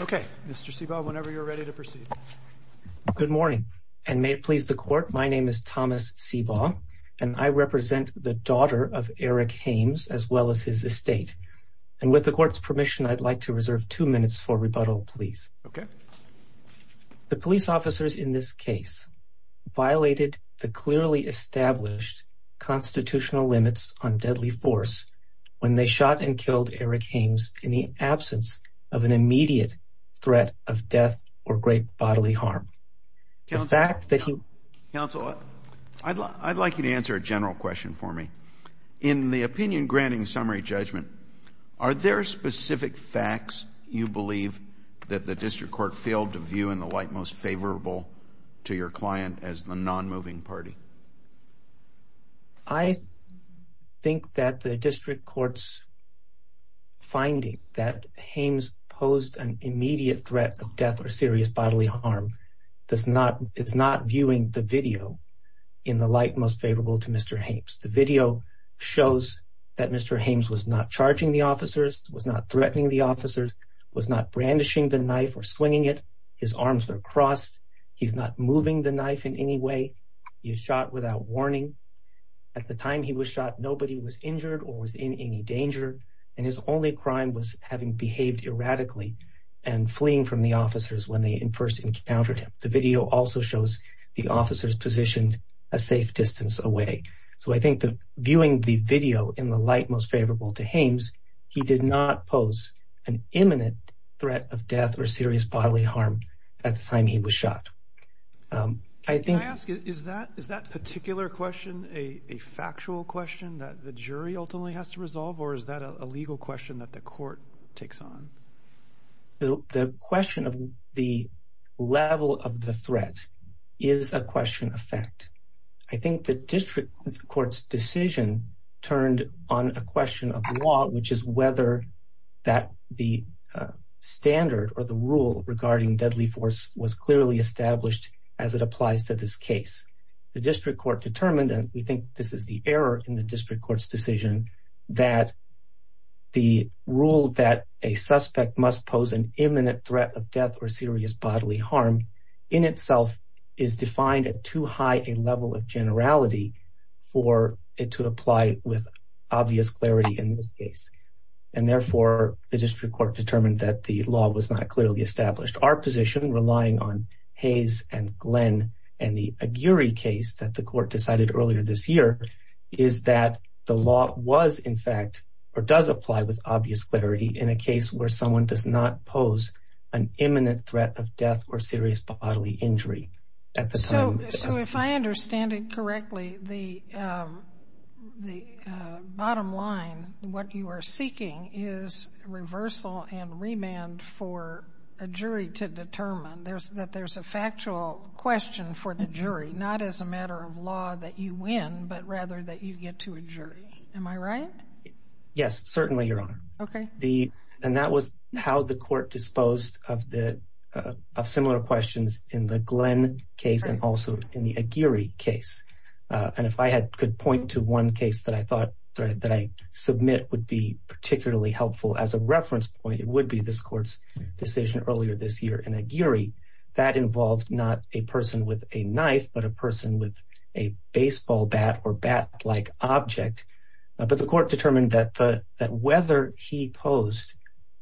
Okay, Mr. Sebaugh, whenever you're ready to proceed. Good morning, and may it please the Court, my name is Thomas Sebaugh, and I represent the daughter of Eric Haymes, as well as his estate. And with the Court's permission, I'd like to reserve two minutes for rebuttal, please. The police officers in this case violated the clearly established constitutional limits on deadly force when they shot and killed Eric Haymes in the absence of an immediate threat of death or great bodily harm. Counsel, I'd like you to answer a general question for me. In the opinion-granting summary judgment, are there specific facts you believe that the District Court failed to view in the light most favorable to your client as the non-moving party? I think that the District Court's finding that Haymes posed an immediate threat of death or serious bodily harm, it's not viewing the video in the light most favorable to Mr. Haymes. The video shows that Mr. Haymes was not charging the officers, was not threatening the officers, was not brandishing the knife or swinging it, his arms were crossed, he's not moving the knife in any way, he's shot without warning. At the time he was shot, nobody was injured or was in any danger, and his only crime was having behaved erratically and fleeing from the officers when they first encountered him. The video also shows the officers positioned a safe distance away. So I think that viewing the video in the light most favorable to Haymes, he did not pose an imminent threat of death or serious bodily harm at the time he was shot. Can I ask, is that particular question a factual question that the jury ultimately has to resolve, or is that a legal question that the court takes on? The question of the level of the threat is a question of fact. I think the district court's decision turned on a question of law, which is whether that the standard or the rule regarding deadly force was clearly established as it applies to this case. The district court determined, and we think this is the error in the district court's decision, that the rule that a suspect must pose an imminent threat of death or serious bodily harm at the time he was shot was not a level of generality for it to apply with obvious clarity in this case. And therefore, the district court determined that the law was not clearly established. Our position, relying on Hayes and Glenn and the Aguirre case that the court decided earlier this year, is that the law was, in fact, or does apply with obvious clarity in a case where someone does not pose an imminent threat of death or serious bodily injury at the time. So if I understand it correctly, the bottom line, what you are seeking is reversal and remand for a jury to determine that there's a factual question for the jury, not as a matter of law that you win, but rather that you get to a jury. Am I right? Yes, certainly, Your Honor. Okay. And that was how the court disposed of similar questions in the Glenn case and also in the Aguirre case. And if I could point to one case that I thought that I submit would be particularly helpful as a reference point, it would be this court's decision earlier this year in Aguirre. That involved not a person with a knife, but a person with a baseball bat or bat-like object. But the court determined that whether he posed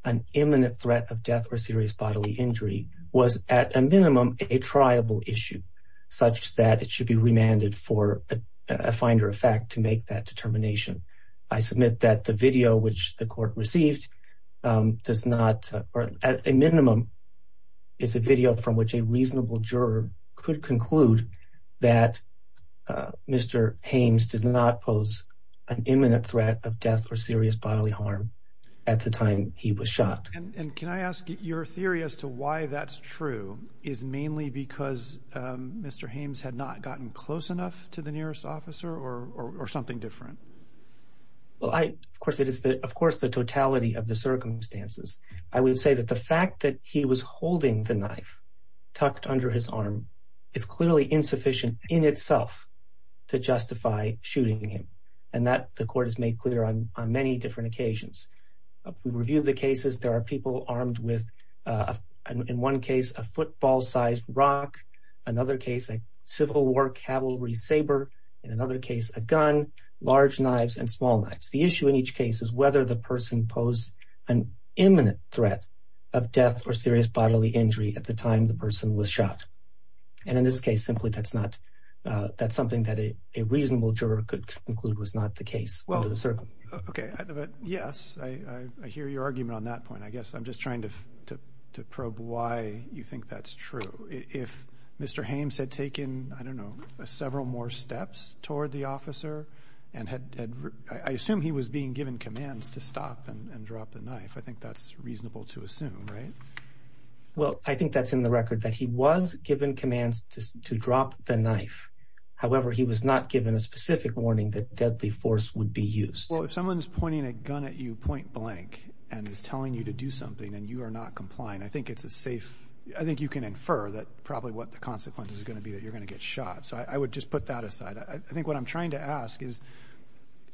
an imminent threat of death or serious bodily injury was, at a minimum, a triable issue, such that it should be remanded for a finder of fact to make that determination. I submit that the video which the court received does not, or at a minimum, is a video from which a reasonable juror could conclude that Mr. Haymes did not pose an imminent threat of death or serious bodily harm at the time he was shot. And can I ask, your theory as to why that's true is mainly because Mr. Haymes had not gotten close enough to the nearest officer or something different? Well, of course, it is the totality of the circumstances. I would say that the fact that he was holding the knife tucked under his arm is clearly insufficient in itself to justify shooting him. And that the court has made clear on many different occasions. We reviewed the cases. There are people armed with, in one case, a football-sized rock, another case, a Civil War cavalry saber, in another case, a gun, large knives, and small knives. The issue in each case is whether the person posed an imminent threat of death or serious bodily injury at the time the person was shot. And in this case, simply, that's not, that's something that a reasonable juror could conclude was not the case. Well, okay, but yes, I hear your argument on that point. I guess I'm just trying to probe why you think that's true. If Mr. Haymes had taken, I don't know, several more steps toward the officer and had, I assume he was being given commands to stop and drop the knife. I think that's reasonable to assume, right? Well, I think that's in the record that he was given commands to drop the knife. However, he was not given a specific warning that deadly force would be used. Well, if someone's pointing a gun at you point blank and is telling you to do something and you are not complying, I think it's a safe, I think you can infer that probably what the consequence is going to be that you're going to get shot. So I would just put that aside. I think what I'm trying to ask is,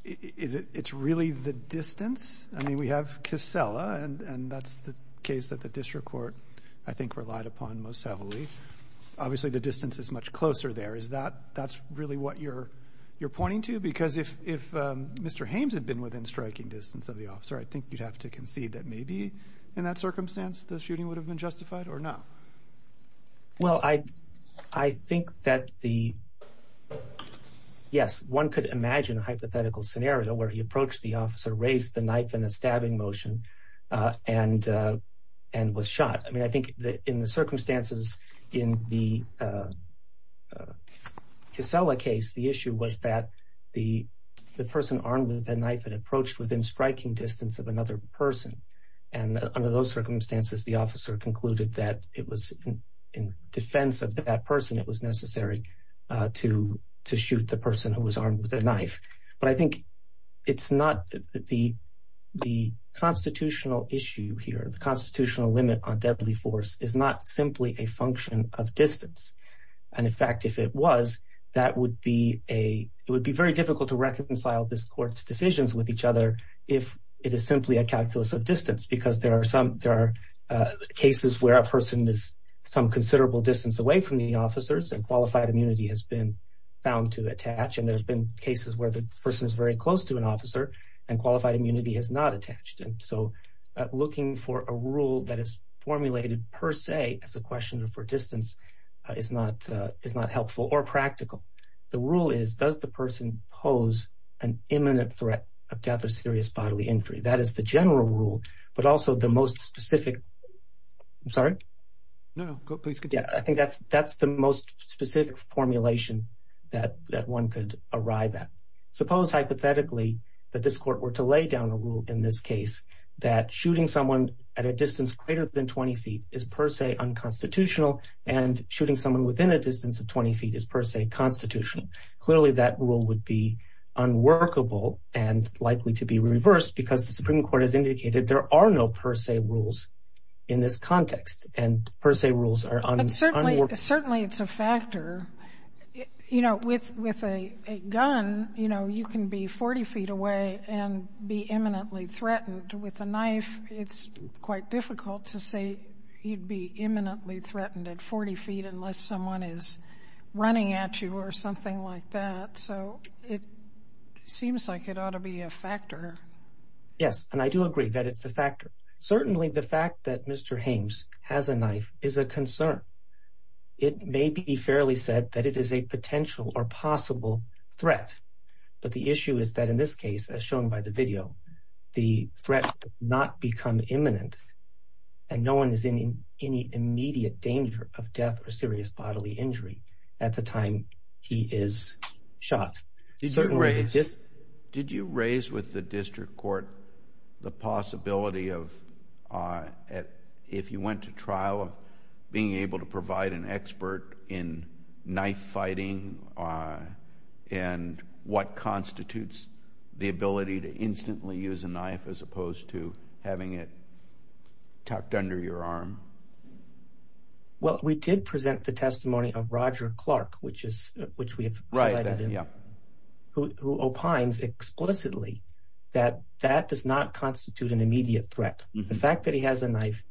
is it, it's really the distance? I mean, we have Kissela and that's the case that the district court, I think, relied upon most heavily. Obviously, the distance is much closer there. Is that, that's really what you're, you're pointing to? Because if, if Mr. Haymes had been within striking distance of the officer, I think you'd have to concede that maybe in that circumstance, the shooting would have been justified or no? Well, I, I think that the, yes, one could imagine a hypothetical scenario where he approached the officer, raised the knife in a stabbing motion and, and was shot. I mean, I think that in the circumstances in the Kissela case, the issue was that the, the person armed with a knife had approached within striking distance of another person. And under those circumstances, the officer concluded that it was in defense of that person, it was necessary to, to shoot the person who was armed with a knife. But I think it's not the, the constitutional issue here, the constitutional limit on deadly force is not simply a function of distance. And in fact, if it was, that would be a, it would be very difficult to reconcile this decisions with each other if it is simply a calculus of distance. Because there are some, there are cases where a person is some considerable distance away from the officers and qualified immunity has been found to attach. And there's been cases where the person is very close to an officer and qualified immunity has not attached. And so looking for a rule that is formulated per se as a question for distance is not, is not helpful or practical. The rule is, does the person pose an imminent threat of death or serious bodily injury? That is the general rule, but also the most specific, I'm sorry? No, no, please continue. I think that's, that's the most specific formulation that, that one could arrive at. Suppose hypothetically that this court were to lay down a rule in this case that shooting someone at a distance greater than 20 feet is per se unconstitutional and shooting someone within a distance of 20 feet is per se constitutional. Clearly that rule would be unworkable and likely to be reversed because the Supreme Court has indicated there are no per se rules in this context and per se rules are unworkable. But certainly, certainly it's a factor. You know, with, with a gun, you know, you can be 40 feet away and be imminently threatened. With a knife, it's quite difficult to say you'd be imminently threatened at 40 feet unless someone is running at you or something like that. So it seems like it ought to be a factor. Yes, and I do agree that it's a factor. Certainly the fact that Mr. Hames has a knife is a concern. It may be fairly said that it is a potential or possible threat. But the issue is that in this case, as shown by the video, the threat does not become imminent and no one is in any immediate danger of death or serious bodily injury at the time he is shot. Did you raise, did you raise with the district court the possibility of, if you went to trial, being able to provide an expert in knife fighting and what constitutes the ability to instantly use a knife as opposed to having it tucked under your arm? Well, we did present the testimony of Roger Clark, which is, which we have, who opines explicitly that that does not constitute an immediate threat. The fact that he has a knife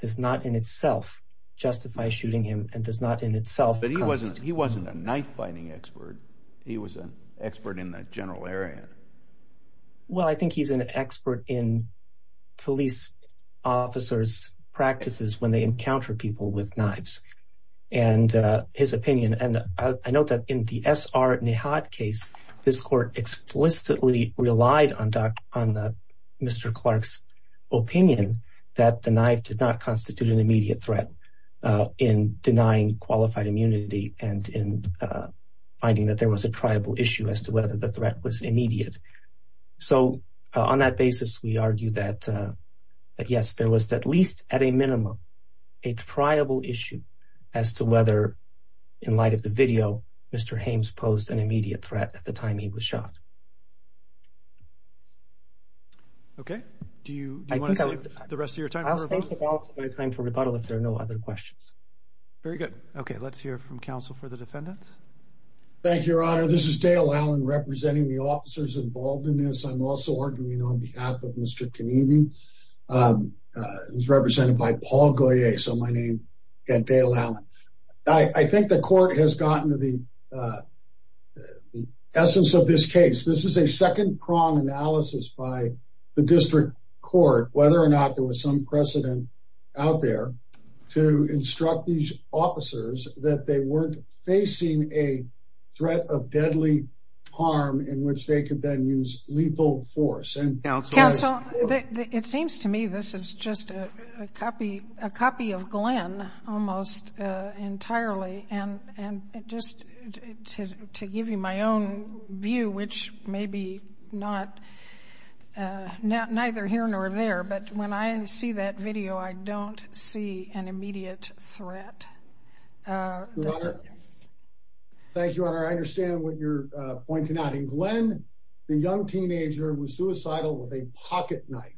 does not in itself justify shooting him and does not in itself constitute. But he wasn't, he wasn't a knife fighting expert. He was an expert in the general area. Well, I think he's an expert in police officers' practices when they encounter people with knives. And his opinion, and I note that in the S.R. Nihat case, this court explicitly relied on Dr., on Mr. Clark's opinion that the knife did not constitute an immediate threat in denying qualified immunity and in finding that there was a triable issue as to whether the threat was immediate. So on that basis, we argue that, yes, there was at least at a minimum a triable issue as to whether, in light of the video, Mr. Hames posed an immediate threat at the time he was shot. Okay. Do you, do you want to save the rest of your time for rebuttal? I'll save the balance of my time for rebuttal if there are no other questions. Very good. Okay. Let's hear from counsel for the defendant. Thank you, Your Honor. This is Dale Allen representing the officers involved in this. I'm also arguing on behalf of Mr. Kenevey, who's represented by Paul Goyer. So my name, again, Dale Allen. I think the court has gotten to the essence of this case. This is a second-prong analysis by the district court, whether or not there was some precedent out there to instruct these officers that they weren't facing a threat of deadly harm in which they could then use lethal force. Counsel, it seems to me this is just a copy, a copy of Glenn almost entirely. And just to give you my own view, which may be not, neither here nor there, but when I see that video, I don't see an immediate threat. Your Honor, thank you, Your Honor. I understand what you're pointing out. In Glenn, the young teenager was suicidal with a pocket knife.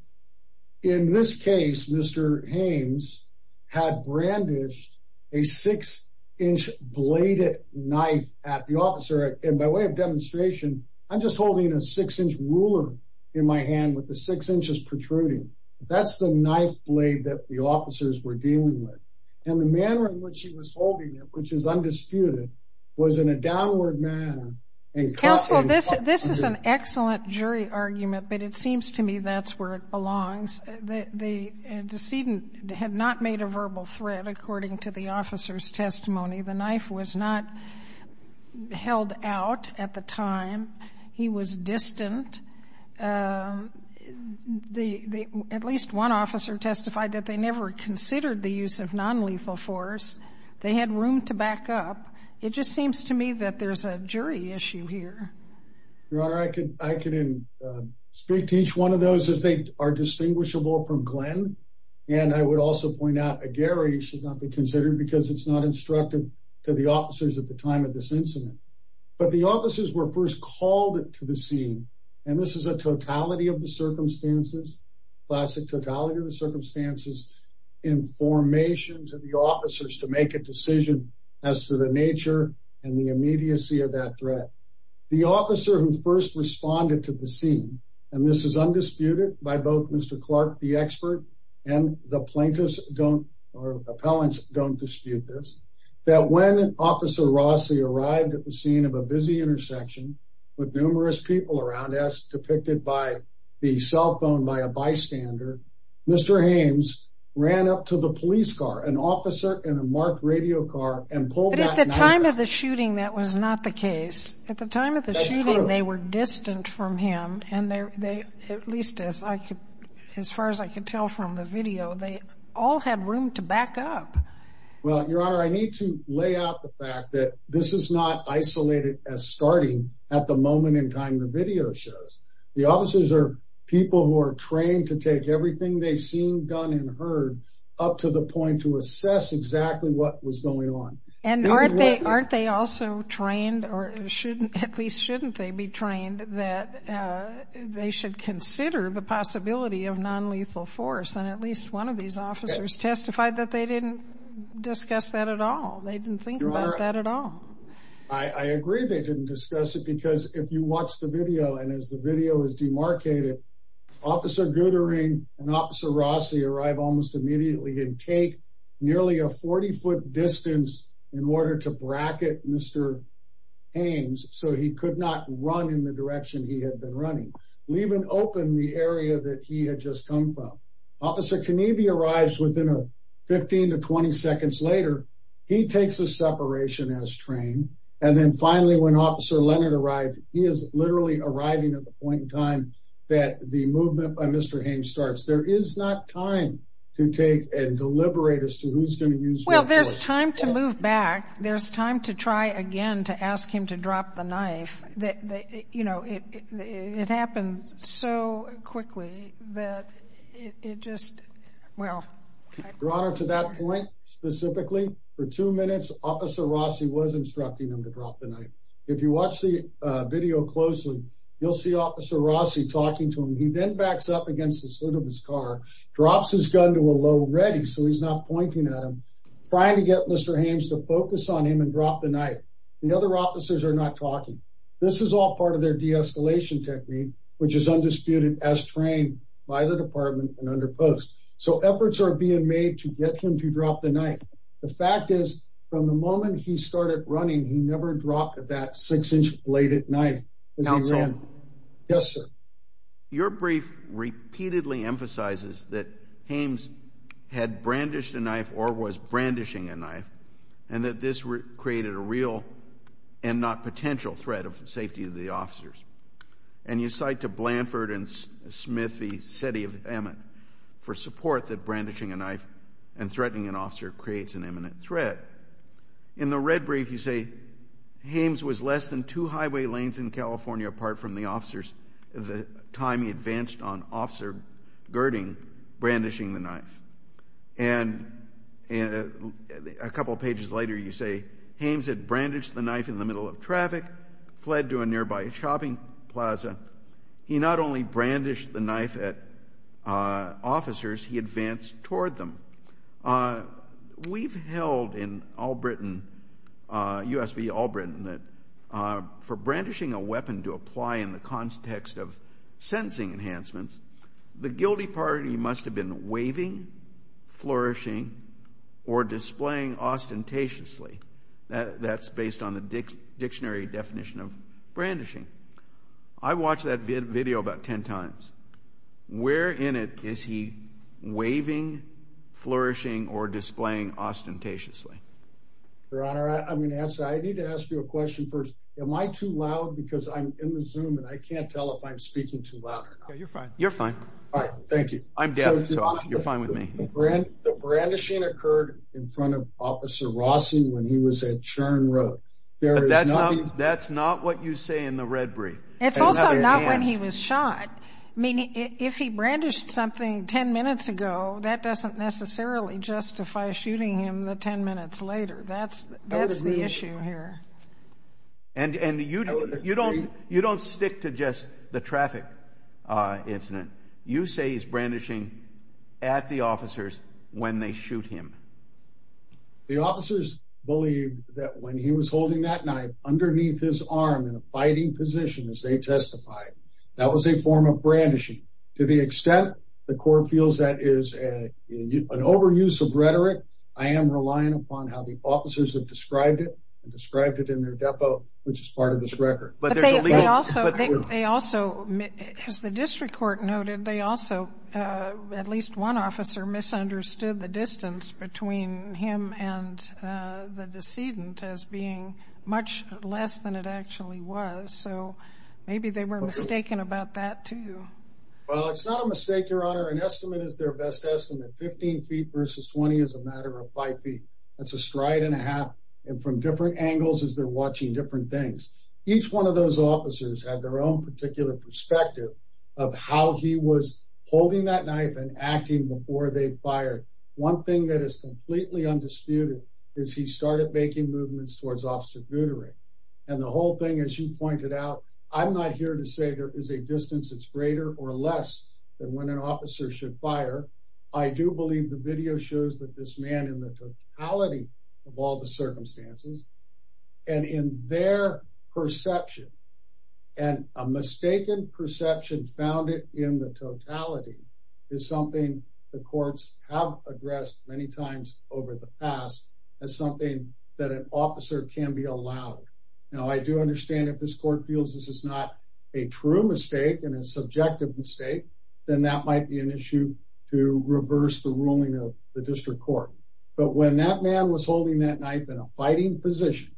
In this case, Mr. Haynes had brandished a 6-inch bladed knife at the officer. And by way of demonstration, I'm just holding a 6-inch ruler in my hand with the 6 inches protruding. That's the knife blade that the officers were dealing with. And the manner in which he was holding it, which is undisputed, was in a downward manner and copied. Counsel, this is an excellent jury argument, but it seems to me that's where it belongs. The decedent had not made a verbal threat according to the officer's testimony. The knife was not held out at the time. He was distant. At least one officer testified that they never considered the use of nonlethal force. They had room to back up. It just seems to me that there's a jury issue here. Your Honor, I can speak to each one of those as they are distinguishable from Glenn. And I would also point out a Gary should not be considered because it's not instructive to the officers at the time of this incident. But the officers were first called to the scene. And this is a totality of the circumstances, classic totality of the circumstances, information to the officers to make a decision as to the nature and the immediacy of that threat. The officer who first responded to the scene, and this is undisputed by both Mr. Clark, the expert, and the plaintiffs don't or appellants don't dispute this, that when Officer Rossi arrived at the scene of a busy intersection with numerous people around us depicted by the cell phone by a bystander, Mr. Hames ran up to the police car, an officer in a marked radio car, and pulled that knife out. But at the time of the shooting, that was not the case. That's true. At the time of the shooting, they were distant from him. And they, at least as far as I could tell from the video, they all had room to back up. Well, Your Honor, I need to lay out the fact that this is not isolated as starting at the moment in time the video shows. The officers are people who are trained to take everything they've seen, done, and heard up to the point to assess exactly what was going on. And aren't they also trained, or at least shouldn't they be trained, that they should consider the possibility of nonlethal force? And at least one of these officers testified that they didn't discuss that at all. They didn't think about that at all. Your Honor, I agree they didn't discuss it because if you watch the video, and as the video is demarcated, Officer Goodering and Officer Rossi arrive almost immediately and take nearly a 40-foot distance in order to bracket Mr. Hames so he could not run in the direction he had been running, leaving open the area that he had just come from. Officer Kenevey arrives within 15 to 20 seconds later. He takes a separation as trained. And then finally when Officer Leonard arrives, he is literally arriving at the point in time that the movement by Mr. Hames starts. There is not time to take and deliberate as to who's going to use what force. Well, there's time to move back. You know, it happened so quickly that it just, well. Your Honor, to that point specifically, for two minutes Officer Rossi was instructing him to drop the knife. If you watch the video closely, you'll see Officer Rossi talking to him. He then backs up against the slit of his car, drops his gun to a low ready so he's not pointing at him, trying to get Mr. Hames to focus on him and drop the knife. The other officers are not talking. This is all part of their de-escalation technique, which is undisputed as trained by the department and under post. So efforts are being made to get him to drop the knife. The fact is, from the moment he started running, he never dropped that six-inch bladed knife. Counsel. Yes, sir. Your brief repeatedly emphasizes that Hames had brandished a knife or was brandishing a knife and that this created a real and not potential threat of safety to the officers. And you cite to Blanford and Smith v. Setty of Emmett for support that brandishing a knife and threatening an officer creates an imminent threat. In the red brief, you say Hames was less than two highway lanes in California apart from the officers the time he advanced on Officer Girding brandishing the knife. And a couple of pages later, you say Hames had brandished the knife in the middle of traffic, fled to a nearby shopping plaza. He not only brandished the knife at officers, he advanced toward them. We've held in Allbritain, U.S. v. Allbritain, that for brandishing a weapon to apply in the context of sentencing enhancements, the guilty party must have been waving, flourishing, or displaying ostentatiously. That's based on the dictionary definition of brandishing. I watched that video about ten times. Where in it is he waving, flourishing, or displaying ostentatiously? Your Honor, I need to ask you a question first. Am I too loud? Because I'm in the Zoom and I can't tell if I'm speaking too loud or not. You're fine. You're fine. Thank you. I'm deaf, so you're fine with me. The brandishing occurred in front of Officer Rossi when he was at Churn Road. That's not what you say in the red brief. It's also not when he was shot. I mean, if he brandished something ten minutes ago, that doesn't necessarily justify shooting him the ten minutes later. That's the issue here. And you don't stick to just the traffic incident. You say he's brandishing at the officers when they shoot him. The officers believed that when he was holding that knife underneath his arm in a fighting position, as they testified, that was a form of brandishing. To the extent the court feels that is an overuse of rhetoric, I am relying upon how the officers have described it and described it in their depot, which is part of this record. But they also, as the district court noted, they also, at least one officer, misunderstood the distance between him and the decedent as being much less than it actually was. So maybe they were mistaken about that too. Well, it's not a mistake, Your Honor. An estimate is their best estimate. Fifteen feet versus twenty is a matter of five feet. That's a stride and a half. And from different angles as they're watching different things. Each one of those officers had their own particular perspective of how he was holding that knife and acting before they fired. One thing that is completely undisputed is he started making movements towards Officer Guteri. And the whole thing, as you pointed out, I'm not here to say there is a distance that's greater or less than when an officer should fire. I do believe the video shows that this man in the totality of all the circumstances and in their perception and a mistaken perception found it in the totality is something the courts have addressed many times over the past as something that an officer can be allowed. Now, I do understand if this court feels this is not a true mistake and a subjective mistake, then that might be an issue to reverse the ruling of the district court. But when that man was holding that knife in a fighting position,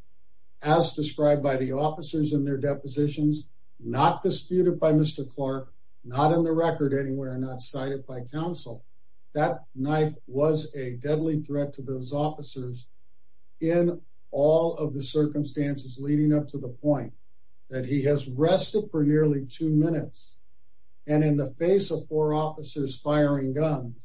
as described by the officers in their depositions, not disputed by Mr. Clark, not in the record anywhere, not cited by counsel, that knife was a deadly threat to those officers in all of the circumstances leading up to the point that he has rested for nearly two minutes. And in the face of four officers firing guns,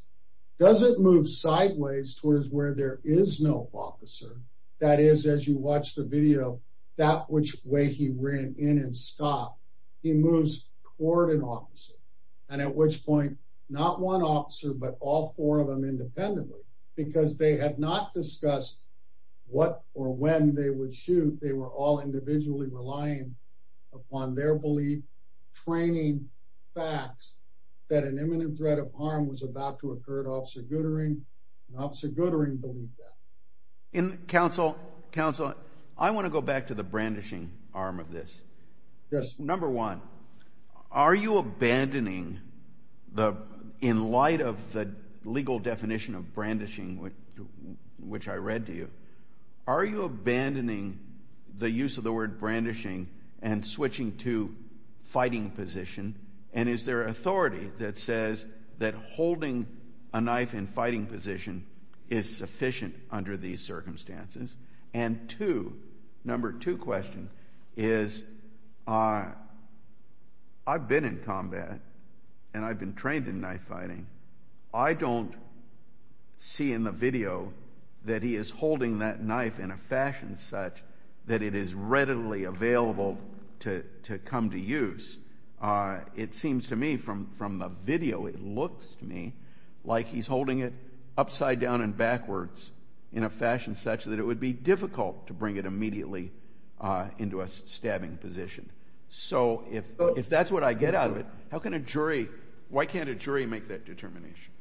does it move sideways towards where there is no officer? That is, as you watch the video, that which way he ran in and stopped. He moves toward an officer, and at which point, not one officer, but all four of them independently because they had not discussed what or when they would shoot. They were all individually relying upon their belief, training facts that an imminent threat of harm was about to occur to Officer Goodering, and Officer Goodering believed that. Counsel, I want to go back to the brandishing arm of this. Yes. Number one, are you abandoning, in light of the legal definition of brandishing, which I read to you, are you abandoning the use of the word brandishing and switching to fighting position? And is there authority that says that holding a knife in fighting position is sufficient under these circumstances? And two, number two question, is I've been in combat, and I've been trained in knife fighting. I don't see in the video that he is holding that knife in a fashion such that it is readily available to come to use. It seems to me from the video, it looks to me like he's holding it upside down and backwards in a fashion such that it would be difficult to bring it immediately into a stabbing position. So, if that's what I get out of it, how can a jury, why can't a jury make that determination?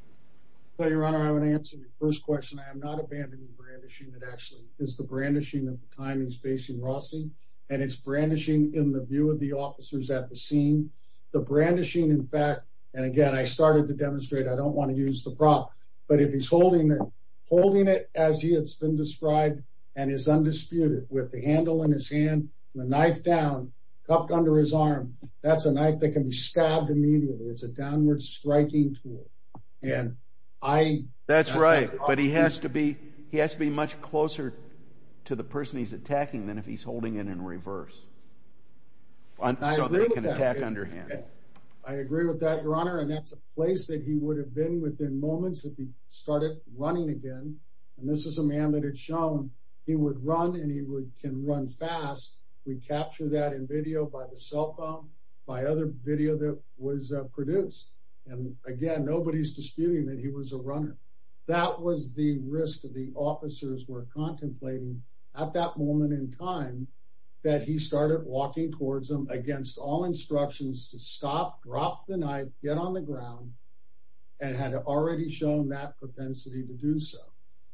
Your Honor, I would answer your first question. I am not abandoning brandishing. It actually is the brandishing of the time he's facing Rossi, and it's brandishing in the view of the officers at the scene. The brandishing, in fact, and again, I started to demonstrate, I don't want to use the prop, but if he's holding it, holding it as he has been described and is undisputed with the handle in his hand, the knife down, cupped under his arm, that's a knife that can be stabbed immediately. It's a downward striking tool. That's right, but he has to be much closer to the person he's attacking than if he's holding it in reverse. I agree with that, Your Honor, and that's a place that he would have been within moments if he started running again, and this is a man that had shown he would run and he can run fast. We capture that in video by the cell phone, by other video that was produced, and again, nobody's disputing that he was a runner. That was the risk that the officers were contemplating at that moment in time that he started walking towards him against all instructions to stop, drop the knife, get on the ground, and had already shown that propensity to do so.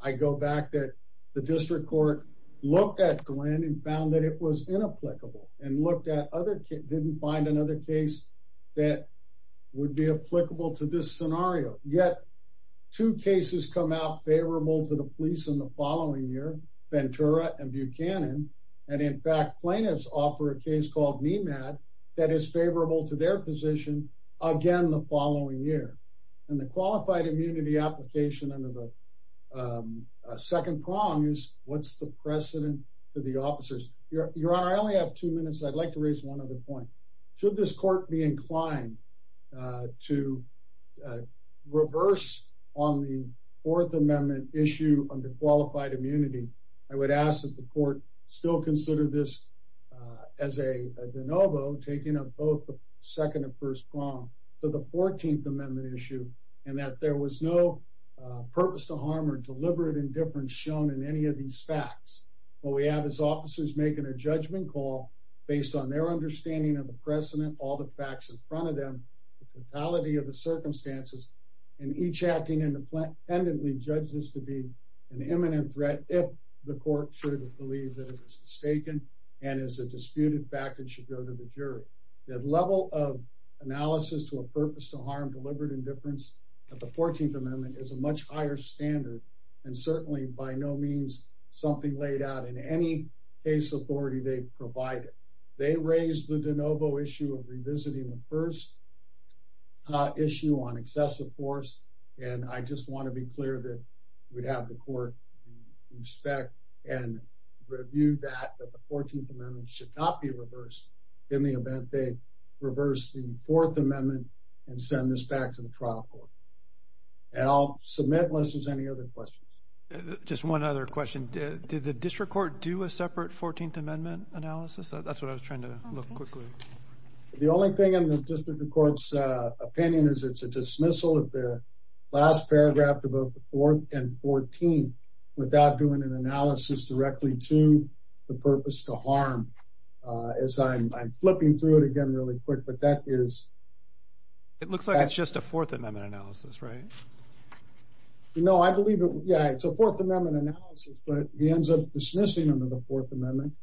I go back that the district court looked at Glenn and found that it was inapplicable and looked at other cases, didn't find another case that would be applicable to this scenario, yet two cases come out favorable to the police in the following year, Ventura and Buchanan, and in fact plaintiffs offer a case called Nemat that is favorable to their position again the following year. And the qualified immunity application under the second prong is what's the precedent for the officers? Your Honor, I only have two minutes. I'd like to raise one other point. Should this court be inclined to reverse on the Fourth Amendment issue under qualified immunity, I would ask that the court still consider this as a de novo, taking up both the second and first prong for the Fourteenth Amendment issue, and that there was no purpose to harm or deliberate indifference shown in any of these facts. What we have is officers making a judgment call based on their understanding of the precedent, all the facts in front of them, the totality of the circumstances, and each acting independently judges to be an imminent threat if the court should believe that it was mistaken and is a disputed fact and should go to the jury. The level of analysis to a purpose to harm deliberate indifference at the Fourteenth Amendment is a much higher standard and certainly by no means something laid out in any case authority they provided. They raised the de novo issue of revisiting the first issue on excessive force, and I just want to be clear that we'd have the court inspect and review that the Fourteenth Amendment should not be reversed in the event they reverse the Fourth Amendment and send this back to the trial court. And I'll submit unless there's any other questions. Just one other question. Did the district court do a separate Fourteenth Amendment analysis? That's what I was trying to look quickly. The only thing in the district court's opinion is it's a dismissal of the last paragraph of both the Fourth and Fourteenth without doing an analysis directly to the purpose to harm. As I'm flipping through it again really quick, but that is... It looks like it's just a Fourth Amendment analysis, right? No, I believe it. Yeah, it's a Fourth Amendment analysis, but he ends up dismissing under the Fourth Amendment,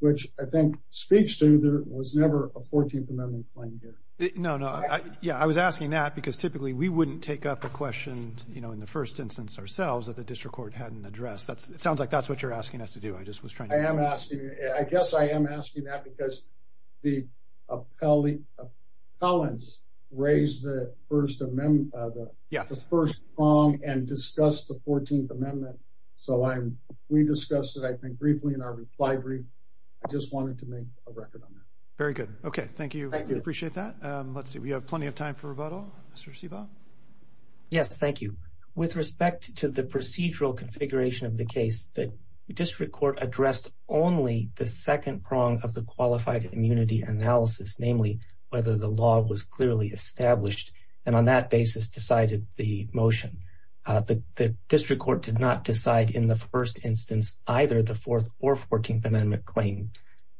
which I think speaks to there was never a Fourteenth Amendment claim here. No, no. Yeah, I was asking that because typically we wouldn't take up a question, you know, in the first instance ourselves that the district court hadn't addressed. It sounds like that's what you're asking us to do. I just was trying to... I am asking. I guess I am asking that because the appellants raised the First Amendment, the first prong and discussed the Fourteenth Amendment. So, we discussed it, I think, briefly in our reply brief. I just wanted to make a record on that. Very good. Okay, thank you. We appreciate that. Let's see. We have plenty of time for rebuttal. Mr. Siva? Yes, thank you. With respect to the procedural configuration of the case, the district court addressed only the second prong of the qualified immunity analysis, namely whether the law was clearly established and on that basis decided the motion. The district court did not decide in the first instance either the Fourth or Fourteenth Amendment claim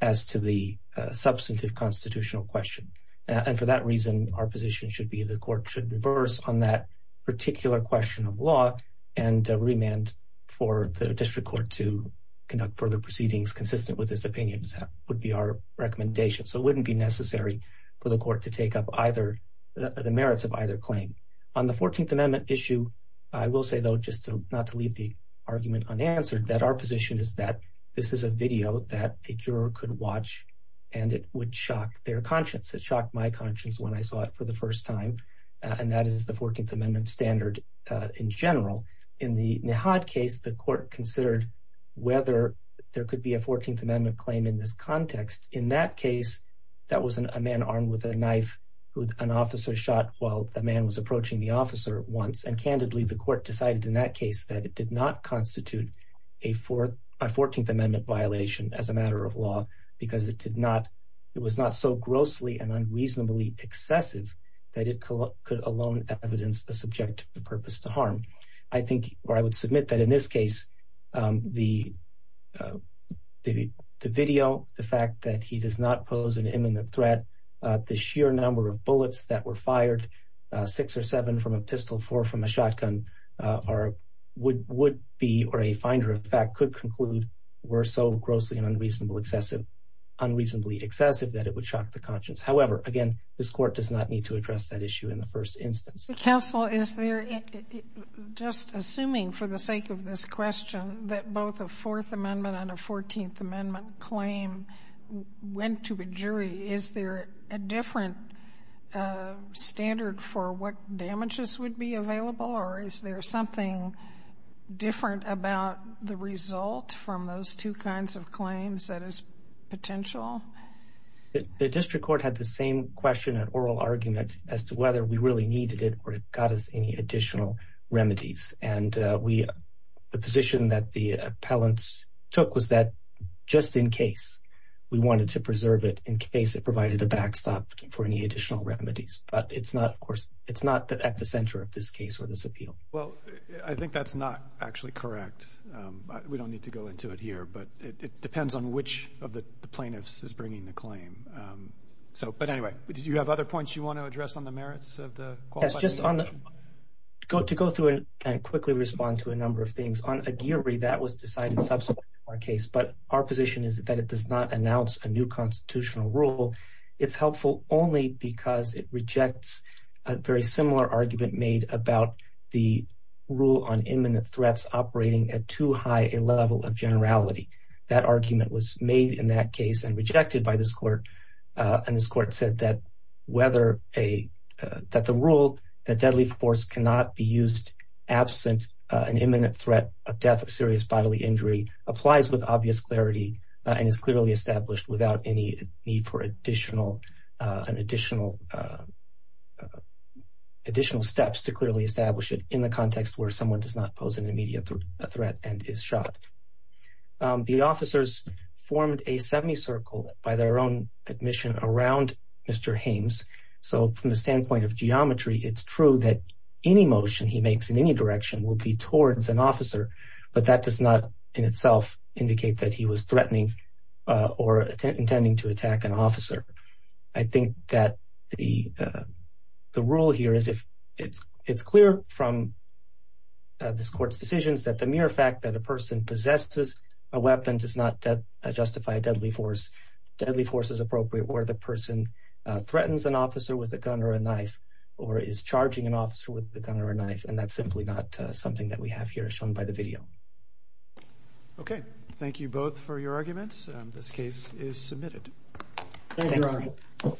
as to the substantive constitutional question. And for that reason, our position should be the court should reverse on that particular question of law and remand for the district court to conduct further proceedings consistent with this opinion. That would be our recommendation. So, it wouldn't be necessary for the court to take up the merits of either claim. On the Fourteenth Amendment issue, I will say, though, just not to leave the argument unanswered, that our position is that this is a video that a juror could watch and it would shock their conscience. It shocked my conscience when I saw it for the first time. And that is the Fourteenth Amendment standard in general. In the Nahat case, the court considered whether there could be a Fourteenth Amendment claim in this context. In that case, that was a man armed with a knife who an officer shot while the man was approaching the officer once. And, candidly, the court decided in that case that it did not constitute a Fourteenth Amendment violation as a matter of law because it was not so grossly and unreasonably excessive that it could alone evidence a subjective purpose to harm. I think, or I would submit that in this case, the video, the fact that he does not pose an imminent threat, the sheer number of bullets that were fired, six or seven from a pistol, four from a shotgun, would be, or a finder, in fact, could conclude were so grossly and unreasonably excessive that it would shock the conscience. However, again, this court does not need to address that issue in the first instance. Counsel, is there, just assuming for the sake of this question, that both a Fourth Amendment and a Fourteenth Amendment claim went to a jury, is there a different standard for what would be available, or is there something different about the result from those two kinds of claims that is potential? The district court had the same question and oral argument as to whether we really needed it or it got us any additional remedies. And the position that the appellants took was that, just in case, we wanted to preserve it in case it provided a backstop for any additional remedies, but it's not, of course, it's not at the center of this case or this appeal. Well, I think that's not actually correct. We don't need to go into it here, but it depends on which of the plaintiffs is bringing the claim. So, but anyway, do you have other points you want to address on the merits of the Qualified Appeal? Yes, just on the, to go through and quickly respond to a number of things. On a jury, that was decided subsequently in our case, but our position is that it does not announce a new constitutional rule. It's helpful only because it rejects a very similar argument made about the rule on imminent threats operating at too high a level of generality. That argument was made in that case and rejected by this court. And this court said that whether a, that the rule that deadly force cannot be used absent an imminent threat of death or serious bodily injury applies with obvious clarity and is clearly established without any need for additional, an additional, additional steps to clearly establish it in the context where someone does not pose an immediate threat and is shot. The officers formed a semicircle by their own admission around Mr. Hames. So from the standpoint of geometry, it's true that any motion he makes in any direction will be towards an officer, but that does not in itself indicate that he was threatening or intending to attack an officer. I think that the, the rule here is if it's, it's clear from this court's decisions that the mere fact that a person possesses a weapon does not justify a deadly force. Deadly force is appropriate where the person threatens an officer with a gun or a knife or is charging an officer with a gun or a knife. And that's simply not something that we have here shown by the video. Okay. Thank you both for your arguments. Thank you, Your Honor.